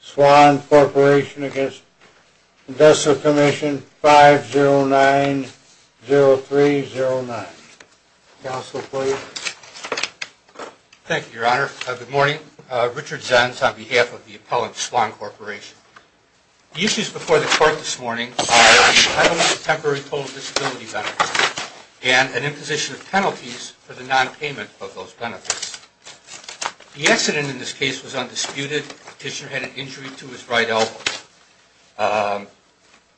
Swann Corporation v. Industrial Commission 5090309 Thank you, Your Honor. Good morning. Richard Zenz on behalf of the appellant Swann Corporation. The issues before the Court this morning are the penalties of temporary total disability benefits and an imposition of penalties for the non-payment of those benefits. The accident in this case was undisputed. The petitioner had an injury to his right elbow.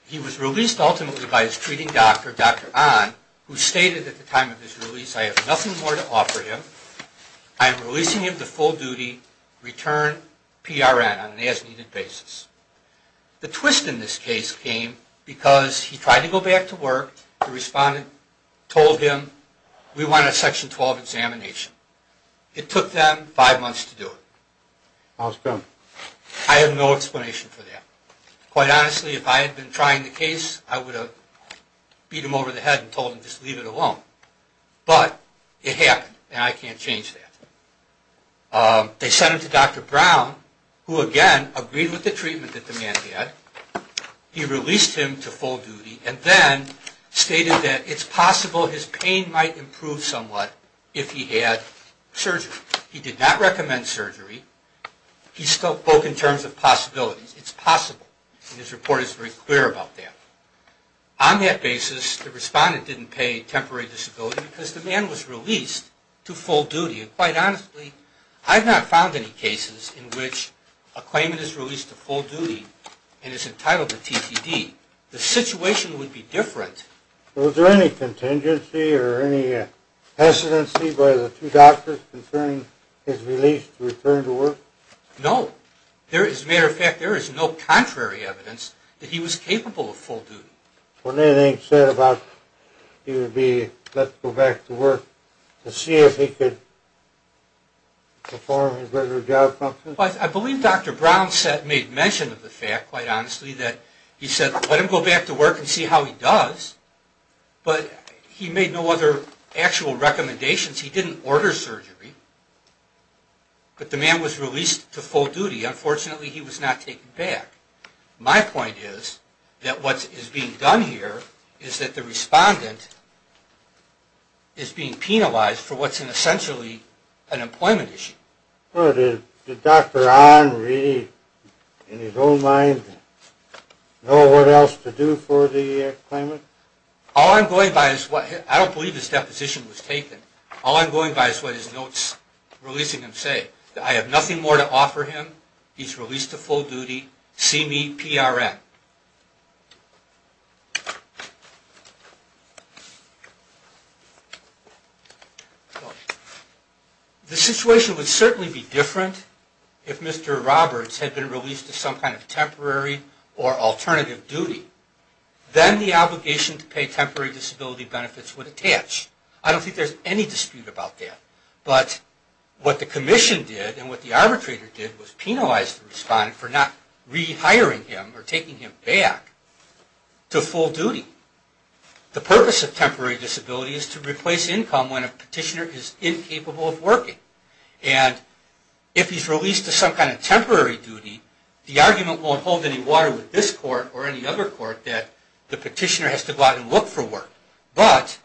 He was released ultimately by his treating doctor, Dr. Ahn, who stated at the time of his release, I have nothing more to offer him. I am releasing him to full-duty return PRN on an as-needed basis. The twist in this case came because he tried to go back to work. The respondent told him, we want a Section 12 examination. It took them five months to do it. I have no explanation for that. Quite honestly, if I had been trying the case, I would have beat him over the head and told him, just leave it alone. But it happened, and I can't change that. They sent him to Dr. Brown, who again agreed with the treatment that the man had. He released him to full-duty and then stated that it's possible his pain might improve somewhat if he had surgery. He did not recommend surgery. He spoke in terms of possibilities. It's possible, and his report is very clear about that. On that basis, the respondent didn't pay temporary disability because the man was released to full-duty. And quite honestly, I have not found any cases in which a claimant is released to full-duty and is entitled to TCD. The situation would be different. Was there any contingency or any hesitancy by the two doctors concerning his release to return to work? No. As a matter of fact, there is no contrary evidence that he was capable of full-duty. Was there anything said about he would be let to go back to work to see if he could perform his regular job? I believe Dr. Brown made mention of the fact, quite honestly, that he said, let him go back to work and see how he does. But he made no other actual recommendations. He didn't order surgery. But the man was released to full-duty. Unfortunately, he was not taken back. My point is that what is being done here is that the respondent is being penalized for what's essentially an employment issue. Did Dr. Ahn really, in his own mind, know what else to do for the claimant? I don't believe his deposition was taken. All I'm going by is what his notes releasing him say. I have nothing more to offer him. He's released to full-duty. See me, PRN. The situation would certainly be different if Mr. Roberts had been released to some kind of temporary or alternative duty. Then the obligation to pay temporary disability benefits would attach. I don't think there's any dispute about that. But what the commission did, and what the arbitrator did, was penalize the respondent for not rehiring him or taking him back to full-duty. The purpose of temporary disability is to replace income when a petitioner is incapable of working. And if he's released to some kind of temporary duty, the argument won't hold any water with this court or any other court that the petitioner has to go out and look for work. But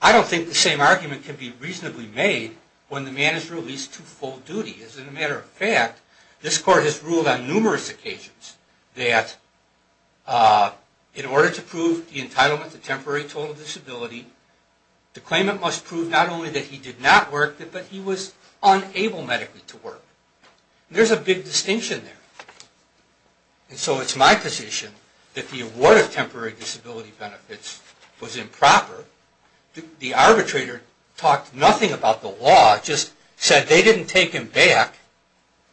I don't think the same argument can be reasonably made when the man is released to full-duty. As a matter of fact, this court has ruled on numerous occasions that in order to prove the entitlement to temporary total disability, the claimant must prove not only that he did not work, but he was unable medically to work. There's a big distinction there. And so it's my position that the award of temporary disability benefits was improper. The arbitrator talked nothing about the law, just said they didn't take him back,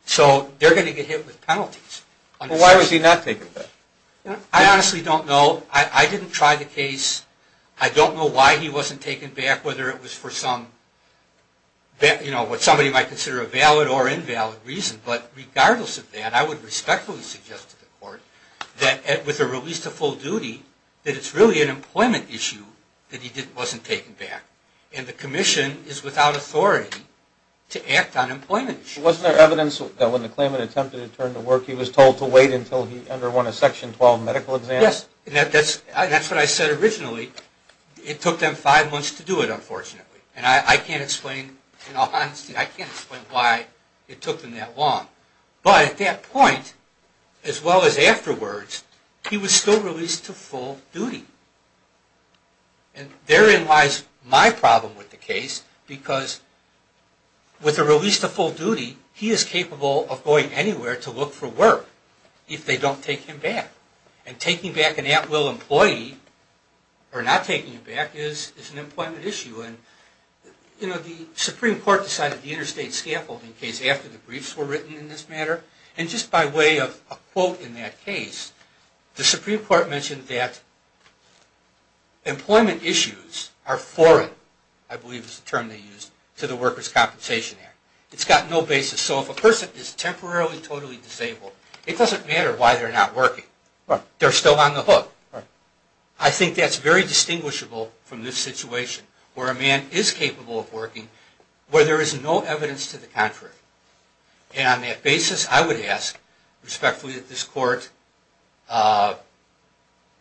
so they're going to get hit with penalties. Why was he not taken back? I honestly don't know. I didn't try the case. I don't know why he wasn't taken back, whether it was for what somebody might consider a valid or invalid reason. But regardless of that, I would respectfully suggest to the court that with a release to full-duty, that it's really an employment issue that he wasn't taken back. And the Commission is without authority to act on employment issues. Wasn't there evidence that when the claimant attempted to turn to work, he was told to wait until he underwent a Section 12 medical exam? Yes. And that's what I said originally. It took them five months to do it, unfortunately. And I can't explain, in all honesty, I can't explain why it took them that long. But at that point, as well as afterwards, he was still released to full-duty. And therein lies my problem with the case, because with a release to full-duty, he is capable of going anywhere to look for work if they don't take him back. And taking back an at-will employee, or not taking him back, is an employment issue. And, you know, the Supreme Court decided the interstate scaffolding case after the briefs were written in this matter. And just by way of a quote in that case, the Supreme Court mentioned that employment issues are foreign, I believe is the term they used, to the Workers' Compensation Act. It's got no basis. So if a person is temporarily totally disabled, it doesn't matter why they're not working. They're still on the hook. I think that's very distinguishable from this situation, where a man is capable of working, where there is no evidence to the contrary. And on that basis, I would ask, respectfully, that this Court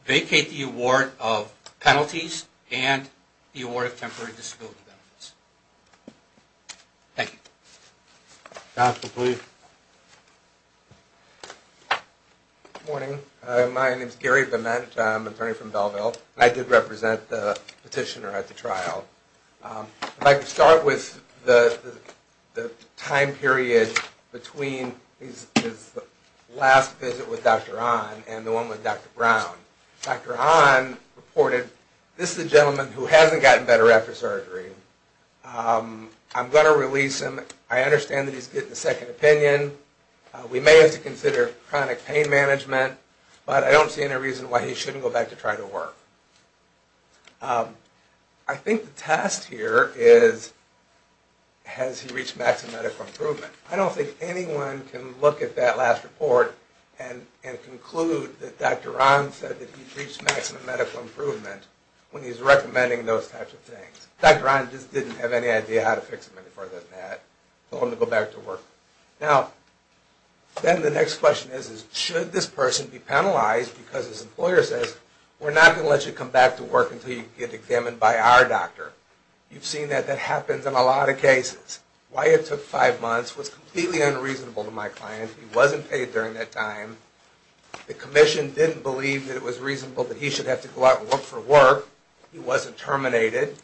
vacate the award of penalties and the award of temporary disability benefits. Thank you. Counsel, please. Good morning. My name is Gary Viment. I'm an attorney from Belleville. I did represent the petitioner at the trial. I'd like to start with the time period between his last visit with Dr. Hahn and the one with Dr. Brown. Dr. Hahn reported, this is a gentleman who hasn't gotten better after surgery. I'm going to release him. I understand that he's getting a second opinion. We may have to consider chronic pain management, but I don't see any reason why he shouldn't go back to try to work. I think the test here is, has he reached maximum medical improvement? I don't think anyone can look at that last report and conclude that Dr. Hahn said that he's reached maximum medical improvement when he's recommending those types of things. Dr. Hahn just didn't have any idea how to fix it any further than that. He told him to go back to work. Now, then the next question is, should this person be penalized because his employer says, we're not going to let you come back to work until you get examined by our doctor. You've seen that that happens in a lot of cases. Why it took five months was completely unreasonable to my client. He wasn't paid during that time. The commission didn't believe that it was reasonable that he should have to go out and work for work. He wasn't terminated.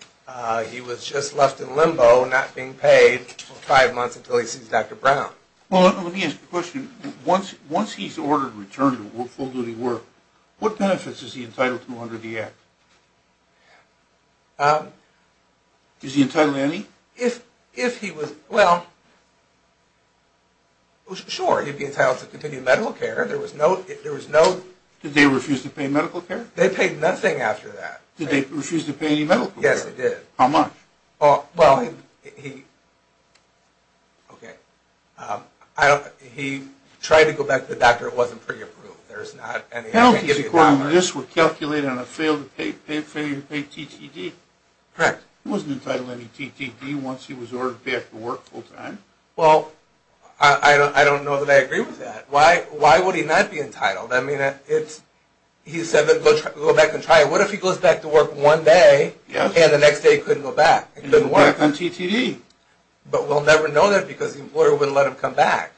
He was just left in limbo, not being paid for five months until he sees Dr. Brown. Well, let me ask you a question. Once he's ordered return to full-duty work, what benefits is he entitled to under the Act? Is he entitled to any? Well, sure, he'd be entitled to continued medical care. Did they refuse to pay medical care? They paid nothing after that. Did they refuse to pay any medical care? Yes, they did. How much? Well, he tried to go back to the doctor. It wasn't pretty approved. Penalties according to this were calculated on a failed failure to pay TTD. Correct. He wasn't entitled to any TTD once he was ordered back to work full-time. Well, I don't know that I agree with that. Why would he not be entitled? I mean, he said that he'd go back and try it. What if he goes back to work one day and the next day couldn't go back? He couldn't go back on TTD. But we'll never know that because the employer wouldn't let him come back.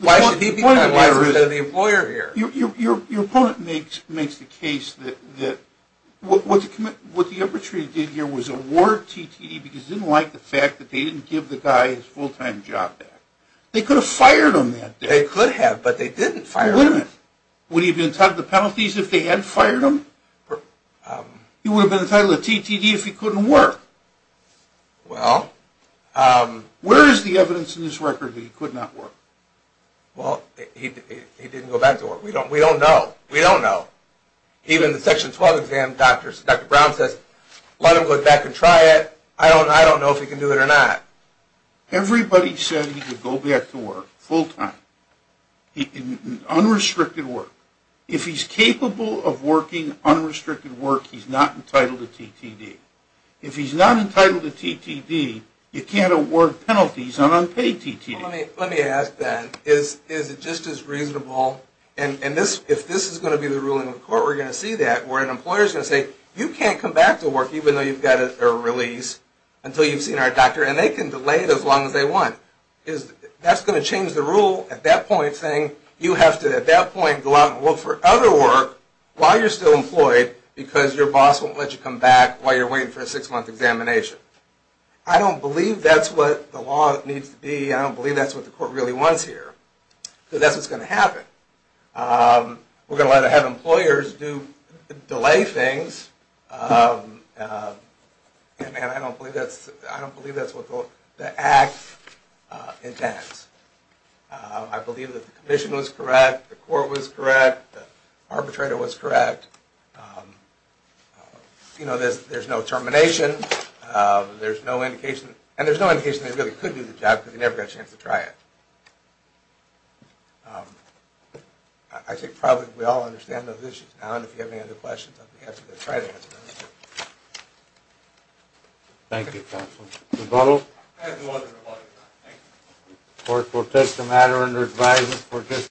Why should he be entitled? Why isn't there the employer here? Your opponent makes the case that what the arbitrator did here was award TTD because he didn't like the fact that they didn't give the guy his full-time job back. They could have fired him that day. They could have, but they didn't fire him. Would he have been entitled to penalties if they had fired him? He would have been entitled to TTD if he couldn't work. Well. Where is the evidence in this record that he could not work? Well, he didn't go back to work. We don't know. We don't know. Even the Section 12 exam, Dr. Brown says, let him go back and try it. I don't know if he can do it or not. Everybody said he could go back to work full-time, unrestricted work. If he's capable of working unrestricted work, he's not entitled to TTD. If he's not entitled to TTD, you can't award penalties on unpaid TTD. Well, let me ask then, is it just as reasonable, and if this is going to be the ruling of the court, we're going to see that, where an employer is going to say, you can't come back to work even though you've got a release until you've seen our doctor, and they can delay it as long as they want. That's going to change the rule at that point saying you have to, at that point, go out and look for other work while you're still employed because your boss won't let you come back while you're waiting for a six-month examination. I don't believe that's what the law needs to be. I don't believe that's what the court really wants here because that's what's going to happen. We're going to have employers delay things, and I don't believe that's what the act intends. I believe that the commission was correct, the court was correct, the arbitrator was correct. There's no termination. There's no indication, and there's no indication they really could do the job because they never got a chance to try it. I think probably we all understand those issues now, and if you have any other questions, I'll be happy to try to answer them. Thank you, counsel. Rebuttal? I have no other rebuttals. Thank you. The court will take the matter under advisement.